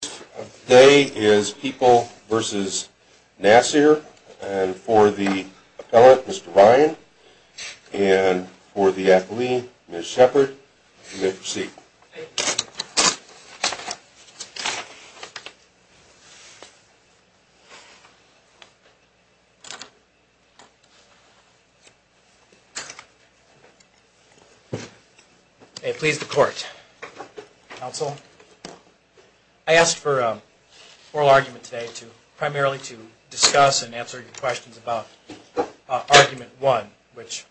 Today is People v. Nasir, and for the appellant, Mr. Ryan, and for the athlete, Ms. Shepard, you may proceed. Thank you. May it please the Court. Counsel, I asked for an oral argument today primarily to discuss and answer your questions about argument one, which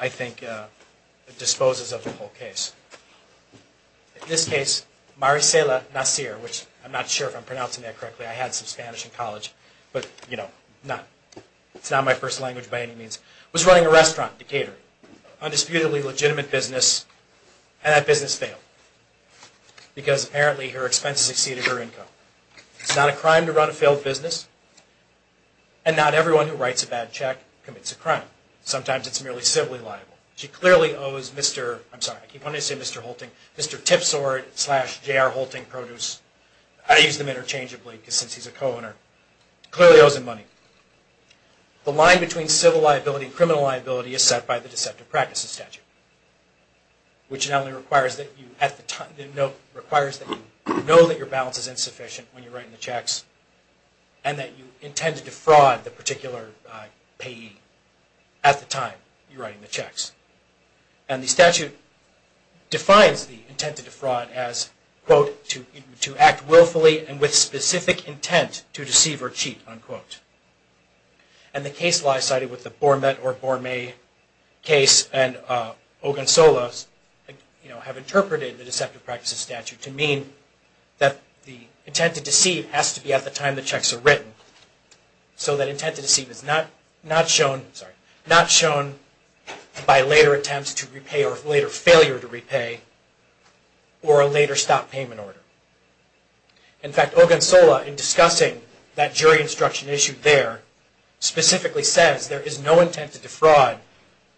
I think disposes of the whole case. In this case, Maricela Nasir, which I'm not sure if I'm pronouncing that correctly, I had some Spanish in college, but it's not my first language by any means, was running a restaurant, a catering, undisputedly legitimate business, and that business failed because apparently her expenses exceeded her income. It's not a crime to run a failed business, and not everyone who writes a bad check commits a crime. Sometimes it's merely civilly liable. She clearly owes Mr., I'm sorry, I keep wanting to say Mr. Holting, Mr. Tipsword slash J.R. Holting Produce. I use them interchangeably since he's a co-owner. Clearly owes him money. The line between civil liability and criminal liability is set by the Deceptive Practices Statute, which not only requires that you know that your balance is insufficient when you're writing the checks, and that you intend to defraud the particular payee at the time you're writing the checks. And the statute defines the intent to defraud as, quote, to act willfully and with specific intent to deceive or cheat, unquote. And the case law cited with the Bormet or Bormay case and Ogunsola, you know, have interpreted the Deceptive Practices Statute to mean that the intent to deceive has to be at the time the checks are written. So that intent to deceive is not shown by later attempts to repay or later failure to repay, or a later stop payment order. In fact, Ogunsola, in discussing that jury instruction issued there, specifically says there is no intent to defraud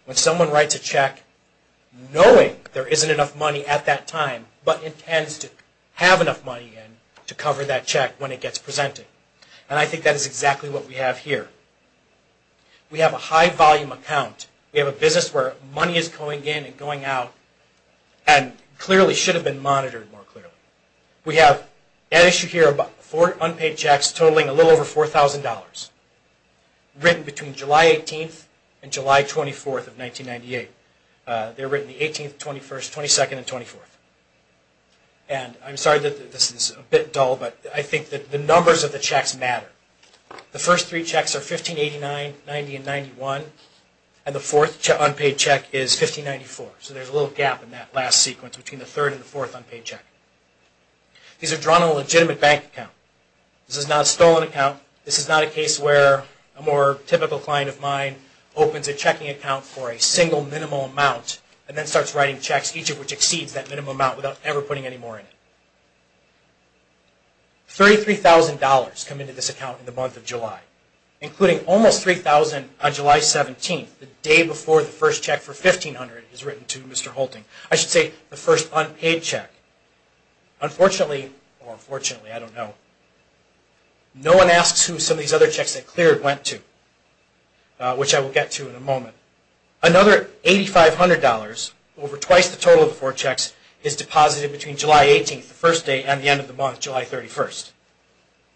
when someone writes a check knowing there isn't enough money at that time, but intends to have enough money to cover that check when it gets presented. And I think that is exactly what we have here. We have a high volume account. We have a business where money is going in and going out and clearly should have been monitored more clearly. We have an issue here about four unpaid checks totaling a little over $4,000, written between July 18th and July 24th of 1998. They're written the 18th, 21st, 22nd, and 24th. And I'm sorry that this is a bit dull, but I think that the numbers of the checks matter. The first three checks are $1589, $1990, and $1991. And the fourth unpaid check is $1594. So there's a little gap in that last sequence between the third and the fourth unpaid check. These are drawn on a legitimate bank account. This is not a stolen account. This is not a case where a more typical client of mine opens a checking account for a single minimal amount and then starts writing checks, each of which exceeds that minimum amount, without ever putting any more in it. $33,000 come into this account in the month of July, including almost $3,000 on July 17th, the day before the first check for $1,500 is written to Mr. Holting. I should say the first unpaid check. Unfortunately, or fortunately, I don't know, no one asks who some of these other checks they cleared went to, which I will get to in a moment. Another $8,500, over twice the total of the four checks, is deposited between July 18th, the first day, and the end of the month, July 31st.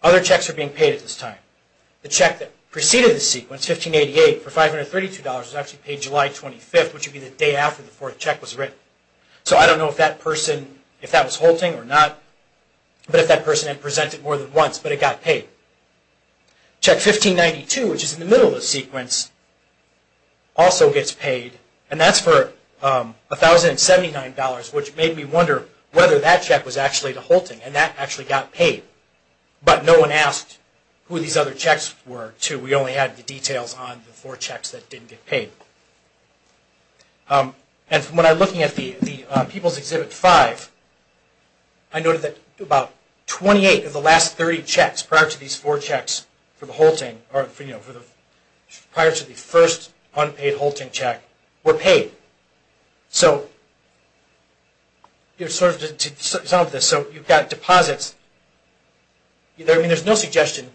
Other checks are being paid at this time. The check that preceded the sequence, $1588, for $532, was actually paid July 25th, which would be the day after the fourth check was written. So I don't know if that person, if that was Holting or not, but if that person had presented more than once, but it got paid. Check $1592, which is in the middle of the sequence, also gets paid, and that's for $1,079, which made me wonder whether that check was actually to Holting, and that actually got paid. But no one asked who these other checks were, too. We only had the details on the four checks that didn't get paid. And when I'm looking at the People's Exhibit 5, I noted that about 28 of the last 30 checks prior to these four checks for the Holting, or prior to the first unpaid Holting check, were paid. So you've got deposits. There's no suggestion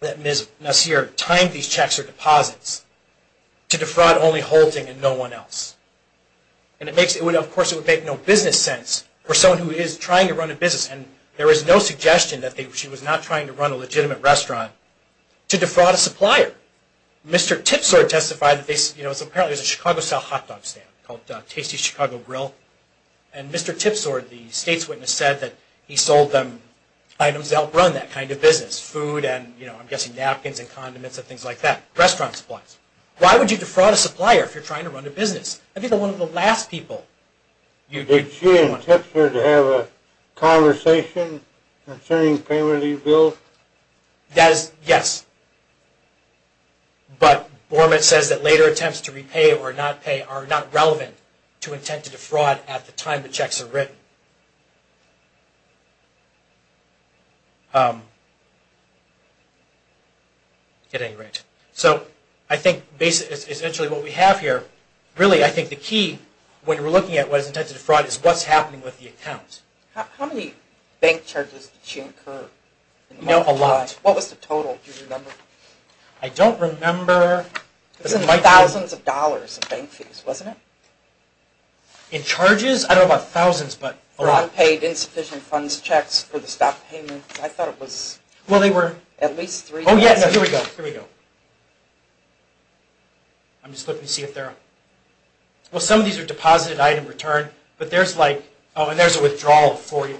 that Ms. Nasir timed these checks or deposits to defraud only Holting and no one else. And of course it would make no business sense for someone who is trying to run a business, and there is no suggestion that she was not trying to run a legitimate restaurant, to defraud a supplier. Mr. Tipsword testified that apparently there's a Chicago-style hot dog stand called Tasty Chicago Grill, and Mr. Tipsword, the state's witness, said that he sold them items that help run that kind of business, food and I'm guessing napkins and condiments and things like that, restaurant supplies. Why would you defraud a supplier if you're trying to run a business? I think they're one of the last people. Did she and Tipsword have a conversation concerning the payment he billed? Yes. But Bormat says that later attempts to repay or not pay are not relevant to intent to defraud at the time the checks are written. So I think essentially what we have here, really I think the key when we're looking at what is intent to defraud is what's happening with the account. How many bank charges did she incur? A lot. What was the total? Do you remember? I don't remember. It was in thousands of dollars of bank fees, wasn't it? In charges? I don't know about thousands, but a lot. Unpaid insufficient funds checks for the stock payment. I thought it was at least three. Here we go. I'm just looking to see if there are... Well, some of these are deposited item return, but there's like... Oh, and there's a withdrawal of 40.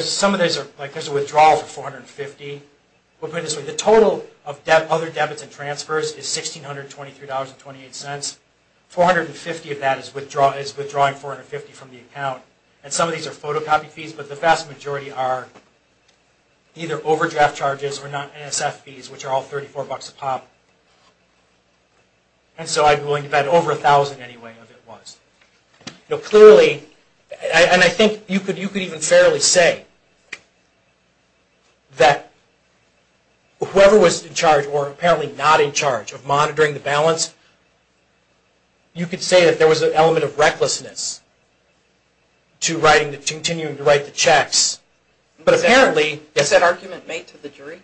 Some of these are like there's a withdrawal of 450. The total of other debits and transfers is $1,623.28. 450 of that is withdrawing 450 from the account. And some of these are photocopy fees, but the vast majority are either overdraft charges or not NSF fees, which are all $34 a pop. And so I'm willing to bet over $1,000 anyway of it was. Clearly, and I think you could even fairly say that whoever was in charge or apparently not in charge of monitoring the balance, you could say that there was an element of recklessness to continuing to write the checks. But apparently... Is that argument made to the jury?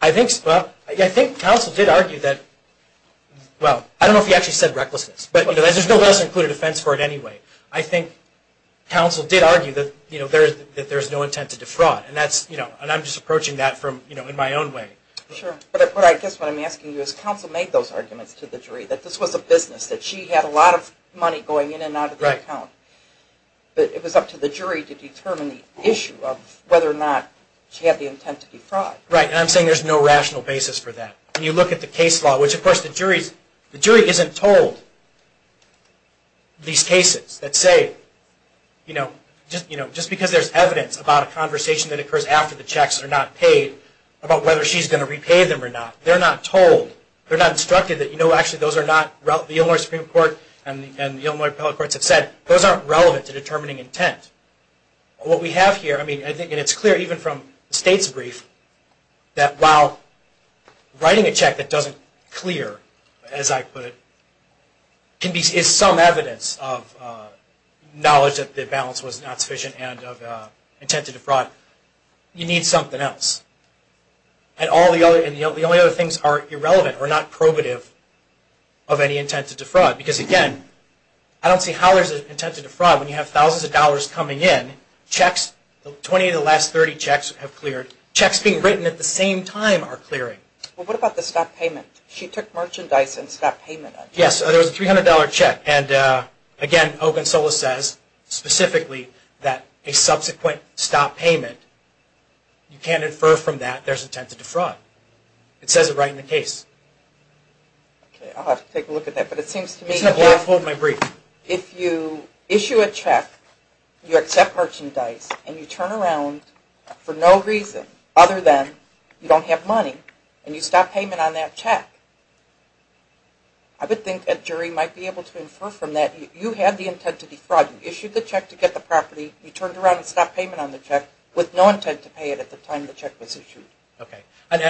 I think counsel did argue that... Well, I don't know if he actually said recklessness, but there's no lesson included offense for it anyway. I think counsel did argue that there's no intent to defraud. And I'm just approaching that in my own way. Sure. But I guess what I'm asking you is, counsel made those arguments to the jury, that this was a business, that she had a lot of money going in and out of the account. But it was up to the jury to determine the issue of whether or not she had the intent to defraud. Right. And I'm saying there's no rational basis for that. When you look at the case law, which of course the jury isn't told these cases that say... Just because there's evidence about a conversation that occurs after the checks are not paid, about whether she's going to repay them or not. They're not told. They're not instructed that, you know, actually those are not... The Illinois Supreme Court and the Illinois Appellate Courts have said, those aren't relevant to determining intent. What we have here, I mean, and it's clear even from the state's brief, that while writing a check that doesn't clear, as I put it, is some evidence of knowledge that the balance was not sufficient and of intent to defraud, you need something else. And the only other things are irrelevant or not probative of any intent to defraud. Because again, I don't see how there's an intent to defraud when you have thousands of dollars coming in, checks, 20 of the last 30 checks have cleared. Checks being written at the same time are clearing. Well, what about the stop payment? She took merchandise and stopped payment. Yes, there was a $300 check. And again, Ogunsola says specifically that a subsequent stop payment, you can't infer from that there's intent to defraud. It says it right in the case. I'll have to take a look at that, but it seems to me... Hold my brief. If you issue a check, you accept merchandise, and you turn around for no reason other than you don't have money, and you stop payment on that check, I would think a jury might be able to infer from that you had the intent to defraud. You issued the check to get the property. You turned around and stopped payment on the check with no intent to pay it at the time the check was issued. Okay. And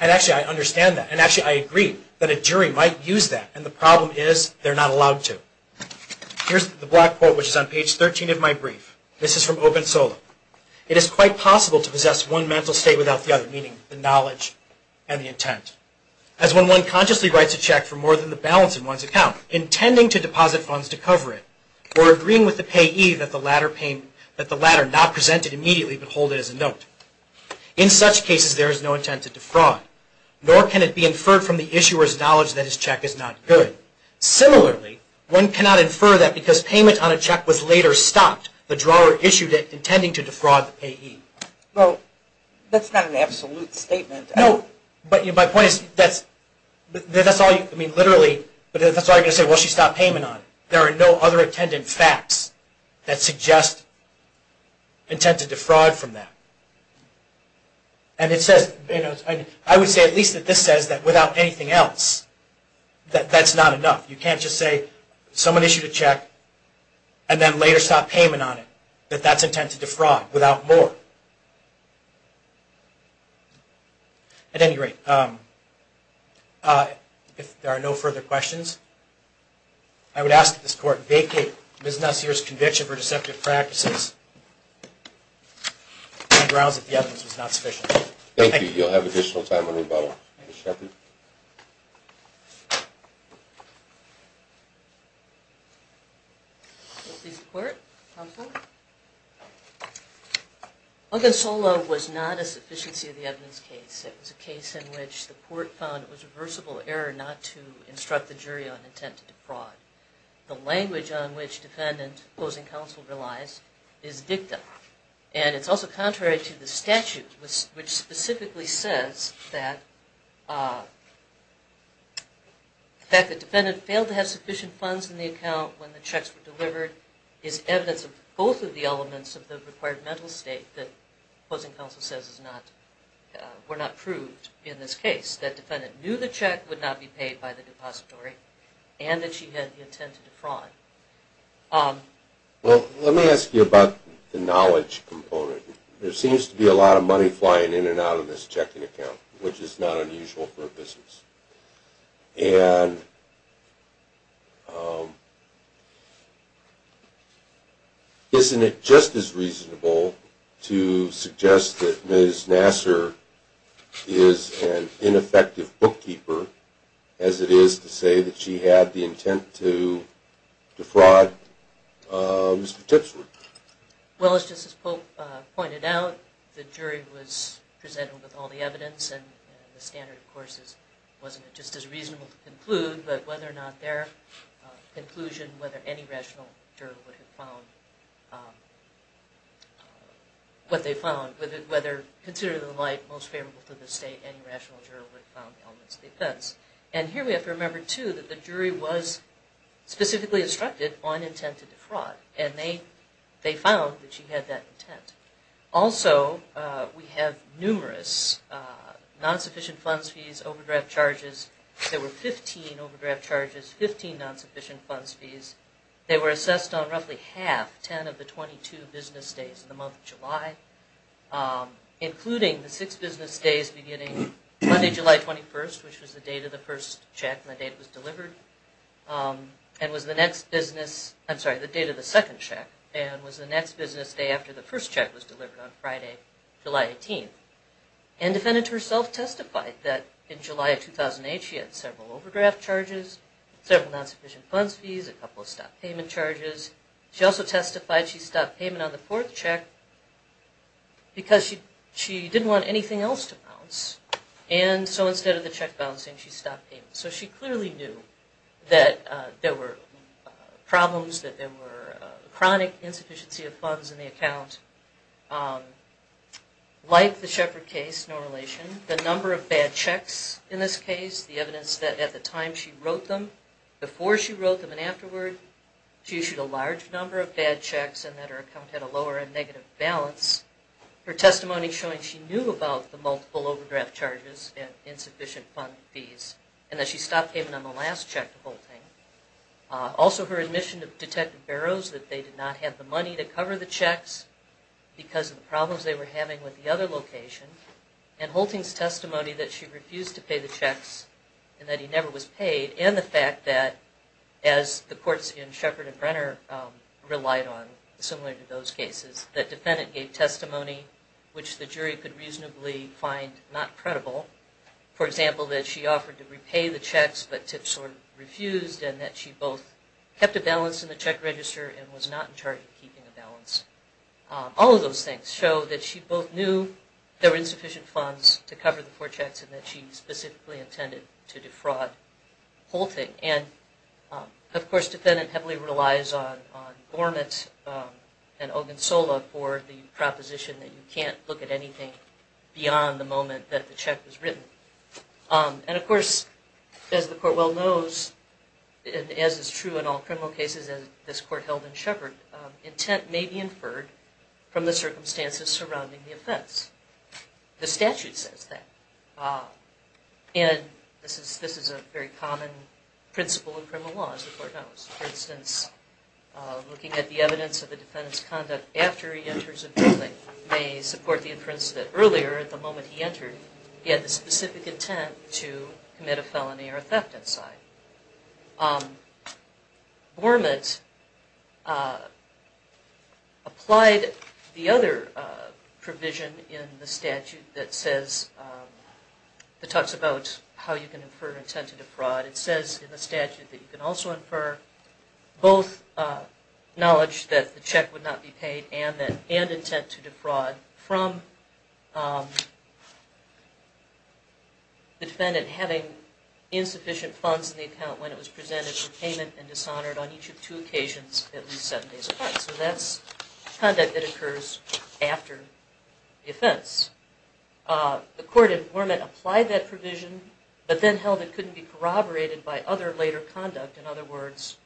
actually, I understand that. And actually, I agree that a jury might use that. And the problem is they're not allowed to. Here's the black board, which is on page 13 of my brief. This is from Ogunsola. As when one consciously writes a check for more than the balance in one's account, intending to deposit funds to cover it, or agreeing with the payee that the latter not present it immediately but hold it as a note. In such cases, there is no intent to defraud, nor can it be inferred from the issuer's knowledge that his check is not good. Similarly, one cannot infer that because payment on a check was later stopped, the drawer issued it intending to defraud the payee. Well, that's not an absolute statement. No. But my point is that's all you, I mean literally, but that's all you're going to say, well, she stopped payment on it. There are no other attendant facts that suggest intent to defraud from that. And it says, I would say at least that this says that without anything else, that that's not enough. You can't just say someone issued a check and then later stopped payment on it, that that's intent to defraud without more. At any rate, if there are no further questions, I would ask that this Court vacate Ms. Nasir's conviction for deceptive practices and grounds that the evidence was not sufficient. Thank you. You'll have additional time when we vote on it. Ms. Shepard? Ms. Shepard? Ogunsola was not a sufficiency of the evidence case. It was a case in which the court found it was reversible error not to instruct the jury on intent to defraud. The language on which defendant opposing counsel relies is dicta. And it's also contrary to the statute, which specifically says that the defendant failed to have sufficient funds in the account when the checks were delivered is evidence of both of the elements of the required mental state that opposing counsel says were not proved in this case, that defendant knew the check would not be paid by the depository and that she had the intent to defraud. Well, let me ask you about the knowledge component. There seems to be a lot of money flying in and out of this checking account, which is not unusual for a business. And isn't it just as reasonable to suggest that Ms. Nasir is an ineffective bookkeeper as it is to say that she had the intent to defraud Mr. Tipsley? Well, as Justice Polk pointed out, the jury was presented with all the evidence and the standard, of course, wasn't just as reasonable to conclude, but whether or not their conclusion, whether any rational juror would have found what they found, whether, considering the light most favorable to the state, any rational juror would have found the elements of the offense. And here we have to remember, too, that the jury was specifically instructed on intent to defraud. And they found that she had that intent. Also, we have numerous non-sufficient funds fees, overdraft charges. There were 15 overdraft charges, 15 non-sufficient funds fees. They were assessed on roughly half, 10 of the 22 business days in the month of July, including the six business days beginning Monday, July 21st, which was the date of the first check and the date it was delivered, and was the next business, I'm sorry, the date of the second check, and was the next business day after the first check was delivered on Friday, July 18th. And the defendant herself testified that in July of 2008 she had several overdraft charges, several non-sufficient funds fees, a couple of stopped payment charges. She also testified she stopped payment on the fourth check because she didn't want anything else to bounce. And so instead of the check bouncing, she stopped payment. So she clearly knew that there were problems, that there were chronic insufficiency of funds in the account. Like the Sheffer case, no relation, the number of bad checks in this case, the evidence that at the time she wrote them, before she wrote them and afterward, she issued a large number of bad checks and that her account had a lower and negative balance. Her testimony showing she knew about the multiple overdraft charges and insufficient fund fees and that she stopped payment on the last check to Holting. Also her admission of Detective Barrows, that they did not have the money to cover the checks because of the problems they were having with the other location, and Holting's testimony that she refused to pay the checks and that he never was paid, and the fact that, as the courts in Sheppard and Brenner relied on, similar to those cases, that Defendant gave testimony which the jury could reasonably find not credible. For example, that she offered to repay the checks but Tipsworth refused and that she both kept a balance in the check register and was not in charge of keeping a balance. All of those things show that she both knew there were insufficient funds to cover the four checks and that she specifically intended to defraud Holting. And, of course, Defendant heavily relies on Gormit and Ogunsola for the proposition that you can't look at anything beyond the moment that the check was written. And, of course, as the Court well knows, as is true in all criminal cases, as this Court held in Sheppard, intent may be inferred from the circumstances surrounding the offense. The statute says that. And this is a very common principle in criminal law, as the Court knows. For instance, looking at the evidence of the Defendant's conduct after he enters a building may support the inference that earlier, at the moment he entered, he had the specific intent to commit a felony or a theft inside. Gormit applied the other provision in the statute that talks about how you can infer intent to defraud. It says in the statute that you can also infer both knowledge that the check would not be paid and intent to defraud from the Defendant having insufficient funds in the account when it was presented for payment and dishonored on each of two occasions at least seven days apart. So that's conduct that occurs after the offense. The Court in Gormit applied that provision, but then held it couldn't be corroborated by other later conduct. In other words,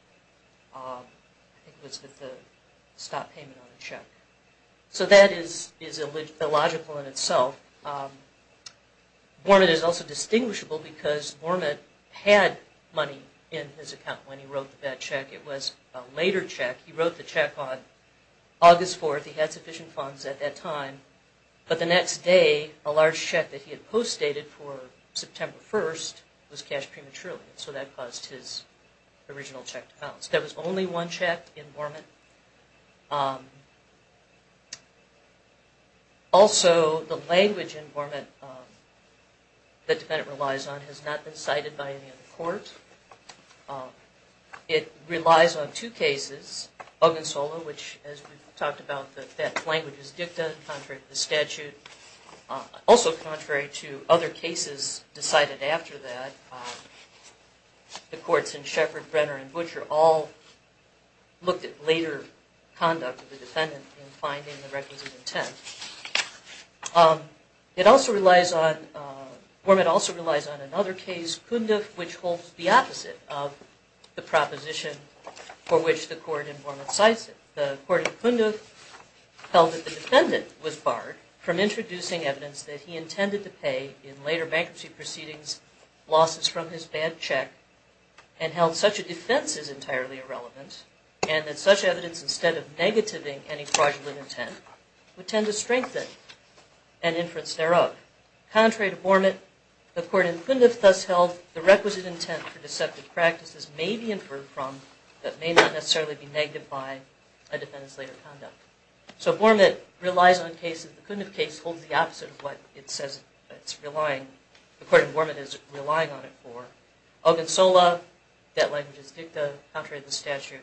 it was that the stop payment on the check. So that is illogical in itself. Gormit is also distinguishable because Gormit had money in his account when he wrote the bad check. It was a later check. He wrote the check on August 4th. He had sufficient funds at that time. But the next day, a large check that he had post-dated for September 1st was cashed prematurely. So that caused his original check to bounce. There was only one check in Gormit. Also, the language in Gormit that the Defendant relies on has not been cited by any other court. It relies on two cases. Ogunsola, which as we talked about, that language is dicta, contrary to the statute. Also contrary to other cases decided after that. The courts in Sheppard, Brenner, and Butcher all looked at later conduct of the Defendant in finding the records of intent. Gormit also relies on another case, Kunduk, which holds the opposite of the proposition for which the Court in Gormit cites it. The Court in Kunduk held that the Defendant was barred from introducing evidence that he intended to pay in later bankruptcy proceedings losses from his bad check and held such a defense is entirely irrelevant and that such evidence, instead of negativing any fraudulent intent, would tend to strengthen an inference thereof. Contrary to Gormit, the Court in Kunduk thus held the requisite intent for deceptive practices may be inferred from, but may not necessarily be negated by a Defendant's later conduct. So Gormit relies on cases, the Kunduk case holds the opposite of what it says it's relying, the Court in Gormit is relying on it for. Ogunsola, that language is dicta, contrary to the statute.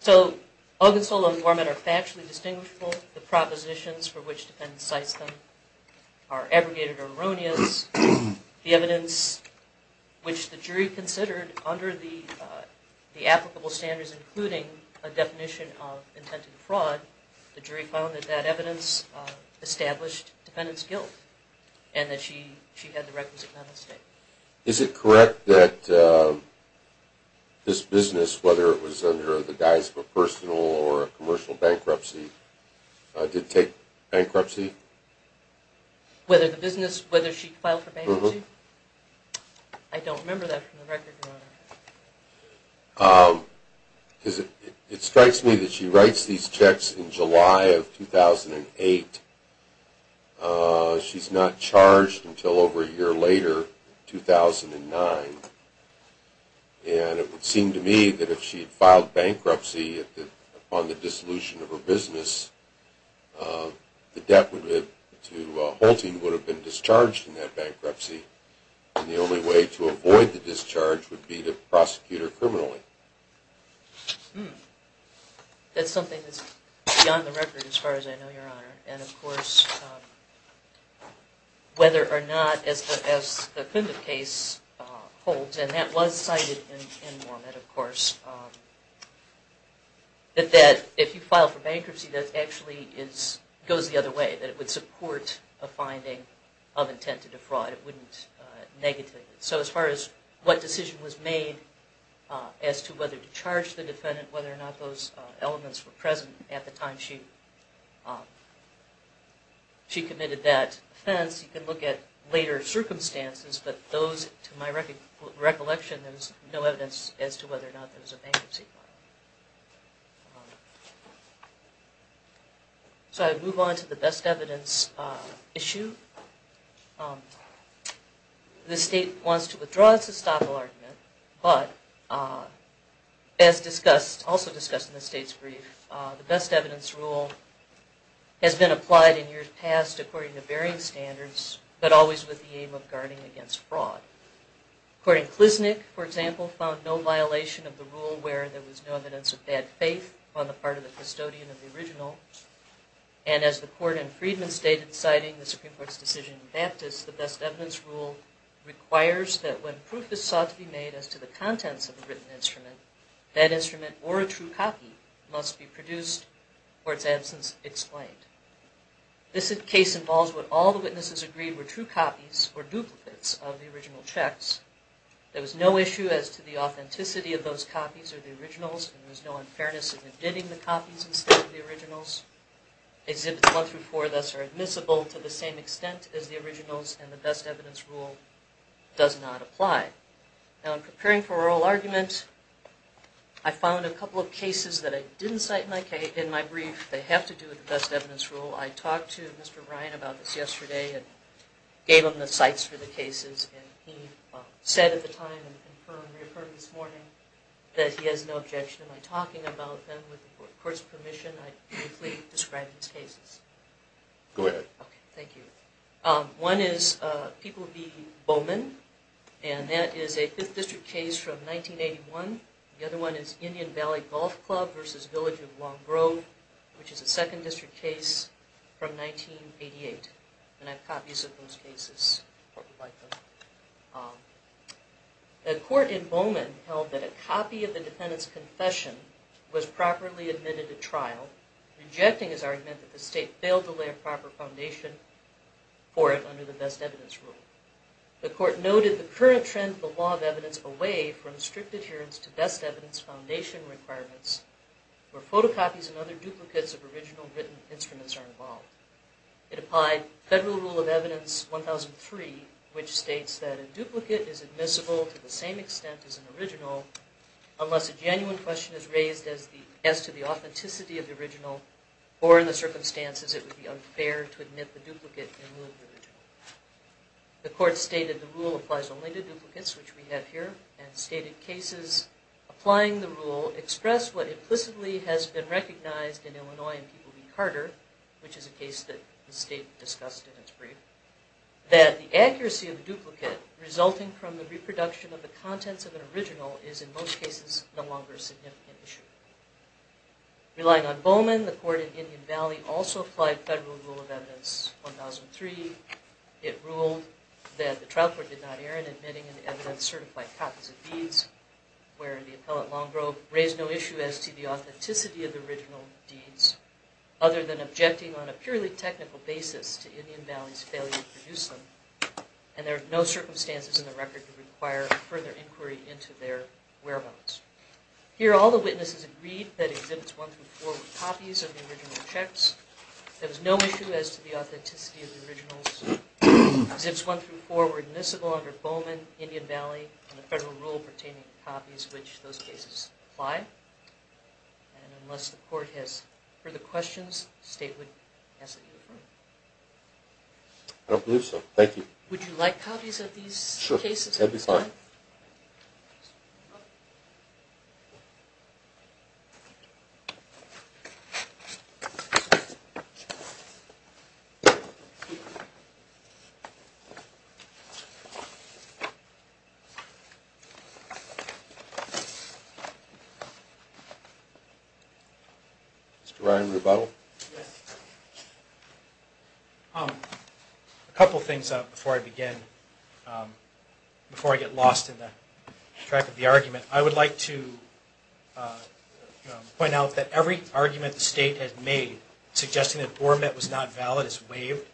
So Ogunsola and Gormit are factually distinguishable. The propositions for which the Defendant cites them are aggregated or erroneous. The evidence which the jury considered under the applicable standards including a definition of intent of fraud, the jury found that that evidence established Defendant's guilt and that she had the requisite mental state. Is it correct that this business, whether it was under the guise of a personal or a commercial bankruptcy, did take bankruptcy? Whether the business, whether she filed for bankruptcy? I don't remember that from the record, Your Honor. It strikes me that she writes these checks in July of 2008. She's not charged until over a year later, 2009. And it would seem to me that if she had filed bankruptcy upon the dissolution of her business, the debt to Holting would have been discharged in that bankruptcy and the only way to avoid the discharge would be to prosecute her criminally. That's something that's beyond the record as far as I know, Your Honor. And, of course, whether or not, as the Klimt case holds, and that was cited in Mormant, of course, that if you file for bankruptcy that actually goes the other way, that it would support a finding of intent to defraud. It wouldn't negativate it. So as far as what decision was made as to whether to charge the Defendant, whether or not those elements were present at the time she committed that offense, you can look at later circumstances, but those, to my recollection, there's no evidence as to whether or not there was a bankruptcy. So I move on to the best evidence issue. The State wants to withdraw its estoppel argument, but as discussed, also discussed in the State's brief, the best evidence rule has been applied in years past according to varying standards, but always with the aim of guarding against fraud. According to Klisnick, for example, found no violation of the rule where there was no evidence of bad faith on the part of the custodian of the original, and as the court in Freedman State had cited in the Supreme Court's decision in Baptist, the best evidence rule requires that when proof is sought to be made as to the contents of a written instrument, that instrument or a true copy must be produced for its absence explained. This case involves what all the witnesses agreed were true copies or duplicates of the original checks. There was no issue as to the authenticity of those copies or the originals, and there was no unfairness in admitting the copies instead of the originals. Exhibits 1 through 4, thus, are admissible to the same extent as the originals, and the best evidence rule does not apply. Now in preparing for oral argument, I found a couple of cases that I didn't cite in my brief that have to do with the best evidence rule. I talked to Mr. Ryan about this yesterday and gave him the cites for the cases, and he said at the time and confirmed this morning that he has no objection to my talking about them. With the court's permission, I briefly described these cases. Go ahead. Okay, thank you. One is People v. Bowman, and that is a 5th District case from 1981. The other one is Indian Valley Golf Club v. Village of Long Grove, which is a 2nd District case from 1988. And I have copies of those cases. The court in Bowman held that a copy of the defendant's confession was properly admitted to trial, rejecting his argument that the state failed to lay a proper foundation for it under the best evidence rule. The court noted the current trend of the law of evidence away from strict adherence to best evidence foundation requirements where photocopies and other duplicates of original written instruments are involved. It applied Federal Rule of Evidence 1003, which states that a duplicate is admissible to the same extent as an original unless a genuine question is raised as to the authenticity of the original or in the circumstances it would be unfair to admit the duplicate in lieu of the original. The court stated the rule applies only to duplicates, which we have here, and stated cases applying the rule express what implicitly has been recognized in Illinois which is a case that the state discussed in its brief, that the accuracy of the duplicate resulting from the reproduction of the contents of an original is in most cases no longer a significant issue. Relying on Bowman, the court in Indian Valley also applied Federal Rule of Evidence 1003. It ruled that the trial court did not err in admitting an evidence certified copies of deeds where the appellate Longgrove raised no issue as to the authenticity of the original deeds other than objecting on a purely technical basis to Indian Valley's failure to produce them and there are no circumstances in the record to require further inquiry into their whereabouts. Here all the witnesses agreed that exhibits 1-4 were copies of the original checks. There was no issue as to the authenticity of the originals. Exhibits 1-4 were admissible under Bowman, Indian Valley, and the Federal Rule pertaining to copies of which those cases apply. And unless the court has further questions, the state would ask that you confirm. I don't believe so. Thank you. Would you like copies of these cases? Sure. That would be fine. Mr. Ryan Rebuttal? A couple of things before I begin, before I get lost in the track of the argument. I would like to point out that every argument the state has made suggesting that Bormat was not valid is waived.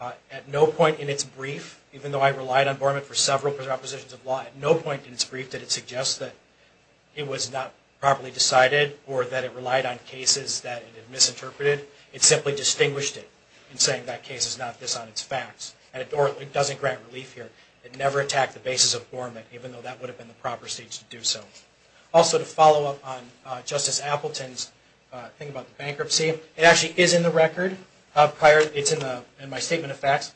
At no point in its brief, even though I relied on Bormat for several oppositions of law, at no point in its brief did it suggest that it was not properly decided or that it relied on cases that it had misinterpreted. It simply distinguished it in saying that case is not this on its facts. And it doesn't grant relief here. It never attacked the basis of Bormat, even though that would have been the proper stage to do so. Also to follow up on Justice Appleton's thing about the bankruptcy, it actually is in the record, it's in my statement of facts.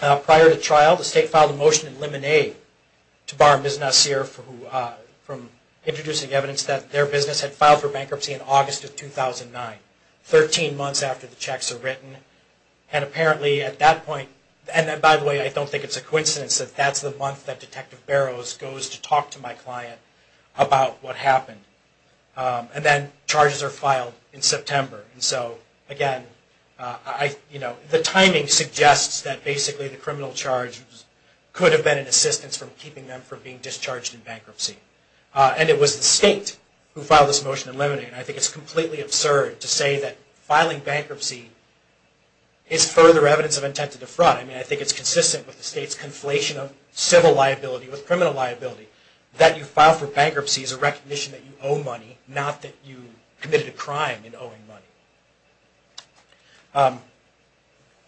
Prior to trial, the state filed a motion in Lemonade to bar Ms. Nasir from introducing evidence that their business had filed for bankruptcy in August of 2009, 13 months after the checks were written. And apparently at that point, and by the way, I don't think it's a coincidence that that's the month that Detective Barrows goes to talk to my client about what happened. And then charges are filed in September. And so again, the timing suggests that basically the criminal charge could have been an assistance from keeping them from being discharged in bankruptcy. And it was the state who filed this motion in Lemonade. And I think it's completely absurd to say that filing bankruptcy is further evidence of intent to defraud. I mean, I think it's consistent with the state's conflation of civil liability with criminal liability. That you file for bankruptcy is a recognition that you owe money, not that you committed a crime in owing money.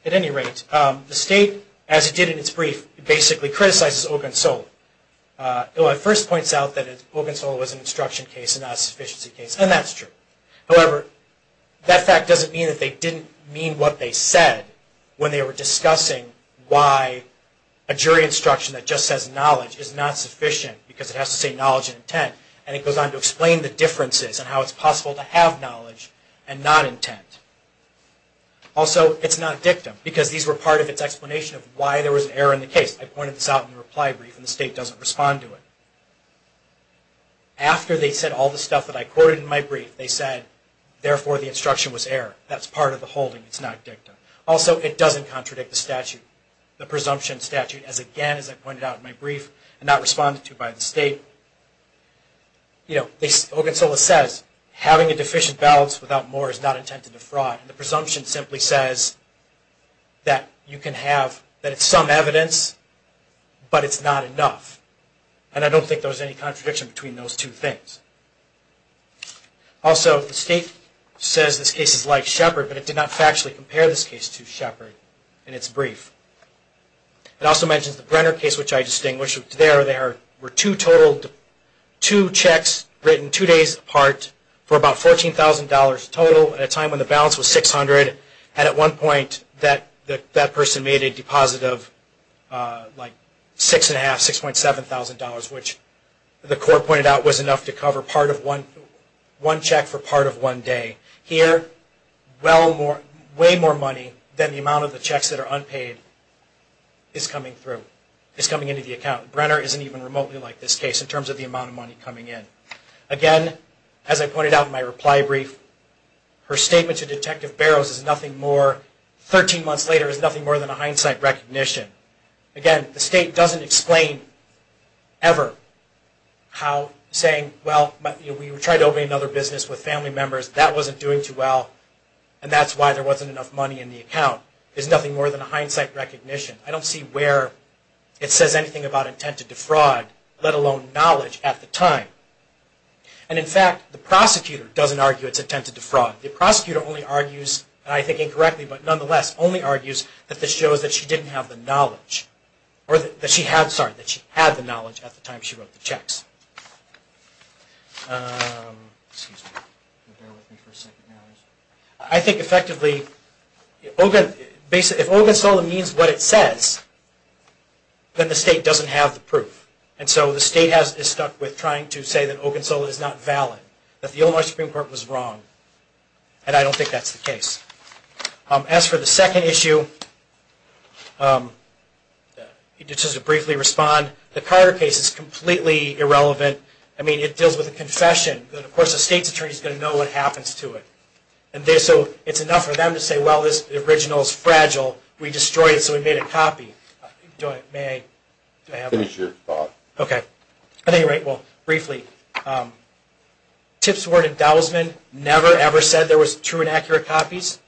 At any rate, the state, as it did in its brief, basically criticizes Ogunsola. It first points out that Ogunsola was an instruction case, not a sufficiency case, and that's true. However, that fact doesn't mean that they didn't mean what they said when they were discussing why a jury instruction that just says knowledge is not sufficient because it has to say knowledge and intent. And it goes on to explain the differences and how it's possible to have knowledge and not intent. Also, it's not dictum, because these were part of its explanation of why there was an error in the case. I pointed this out in the reply brief, and the state doesn't respond to it. After they said all the stuff that I quoted in my brief, they said, therefore, the instruction was error. That's part of the holding. It's not dictum. Also, it doesn't contradict the statute, the presumption statute. Again, as I pointed out in my brief, and not responded to by the state, Ogunsola says having a deficient balance without more is not intended to defraud. The presumption simply says that it's some evidence, but it's not enough. And I don't think there's any contradiction between those two things. Also, the state says this case is like Shepard, but it did not factually compare this case to Shepard in its brief. It also mentions the Brenner case, which I distinguished. There were two checks written two days apart for about $14,000 total at a time when the balance was $600. And at one point, that person made a deposit of like $6,500, $6.7,000, which the court pointed out was enough to cover one check for part of one day. Here, way more money than the amount of the checks that are unpaid is coming through, is coming into the account. Brenner isn't even remotely like this case in terms of the amount of money coming in. Again, as I pointed out in my reply brief, her statement to Detective Barrows is nothing more, 13 months later, is nothing more than a hindsight recognition. Again, the state doesn't explain, ever, how saying, well, we tried to open another business with family members, that wasn't doing too well, and that's why there wasn't enough money in the account, is nothing more than a hindsight recognition. I don't see where it says anything about intent to defraud, let alone knowledge at the time. And in fact, the prosecutor doesn't argue it's intent to defraud. The prosecutor only argues, and I think incorrectly, but nonetheless, only argues that this shows that she didn't have the knowledge, or that she had, sorry, that she had the knowledge at the time she wrote the checks. I think effectively, if Ogunsola means what it says, then the state doesn't have the proof. And so the state is stuck with trying to say that Ogunsola is not valid, that the Illinois Supreme Court was wrong, and I don't think that's the case. As for the second issue, just to briefly respond, the Carter case is completely irrelevant. I mean, it deals with a confession. Of course, the state's attorney is going to know what happens to it. So it's enough for them to say, well, this original is fragile. We destroyed it, so we made a copy. Do I, may I? Finish your thought. Okay. At any rate, well, briefly, Tipsworth and Dousman never, ever said there was true and accurate copies.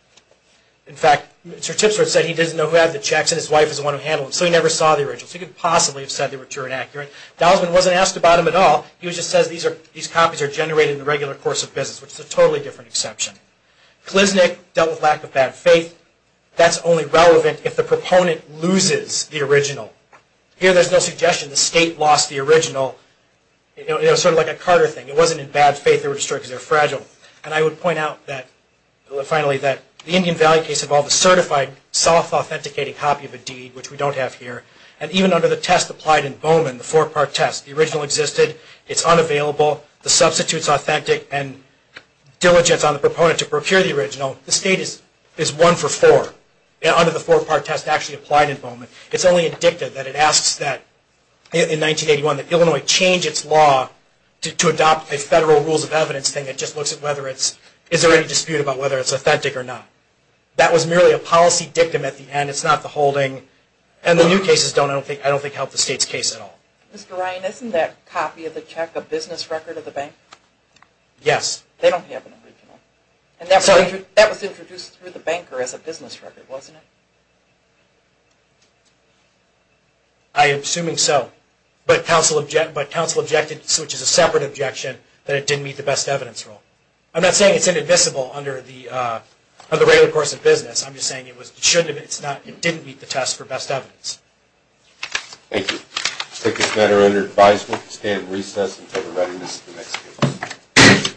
In fact, Mr. Tipsworth said he didn't know who had the checks, and his wife is the one who handled them, so he never saw the originals. He could possibly have said they were true and accurate. Dousman wasn't asked about them at all. He just says these copies are generated in the regular course of business, which is a totally different exception. Gliznik dealt with lack of bad faith. That's only relevant if the proponent loses the original. Here, there's no suggestion the state lost the original. It was sort of like a Carter thing. It wasn't in bad faith they were destroyed because they were fragile. And I would point out, finally, that the Indian Valley case involved a certified, self-authenticating copy of a deed, which we don't have here. And even under the test applied in Bowman, the four-part test, the original existed. It's unavailable. The substitute's authentic, and diligence on the proponent to procure the original, the state is one for four under the four-part test actually applied in Bowman. It's only a dicta that it asks that, in 1981, that Illinois change its law to adopt a federal rules of evidence thing that just looks at whether it's, is there any dispute about whether it's authentic or not. That was merely a policy dictum at the end. It's not the holding. And the new cases don't, I don't think, help the state's case at all. Mr. Ryan, isn't that copy of the check a business record of the bank? Yes. They don't have an original. And that was introduced through the banker as a business record, wasn't it? I am assuming so. But counsel objected, which is a separate objection, that it didn't meet the best evidence rule. I'm not saying it's inadmissible under the regular course of business. I'm just saying it was, it shouldn't have, it didn't meet the test for best evidence. Thank you. We'll take this matter under advisement. We'll stay in recess until the readiness of the next case. Thank you.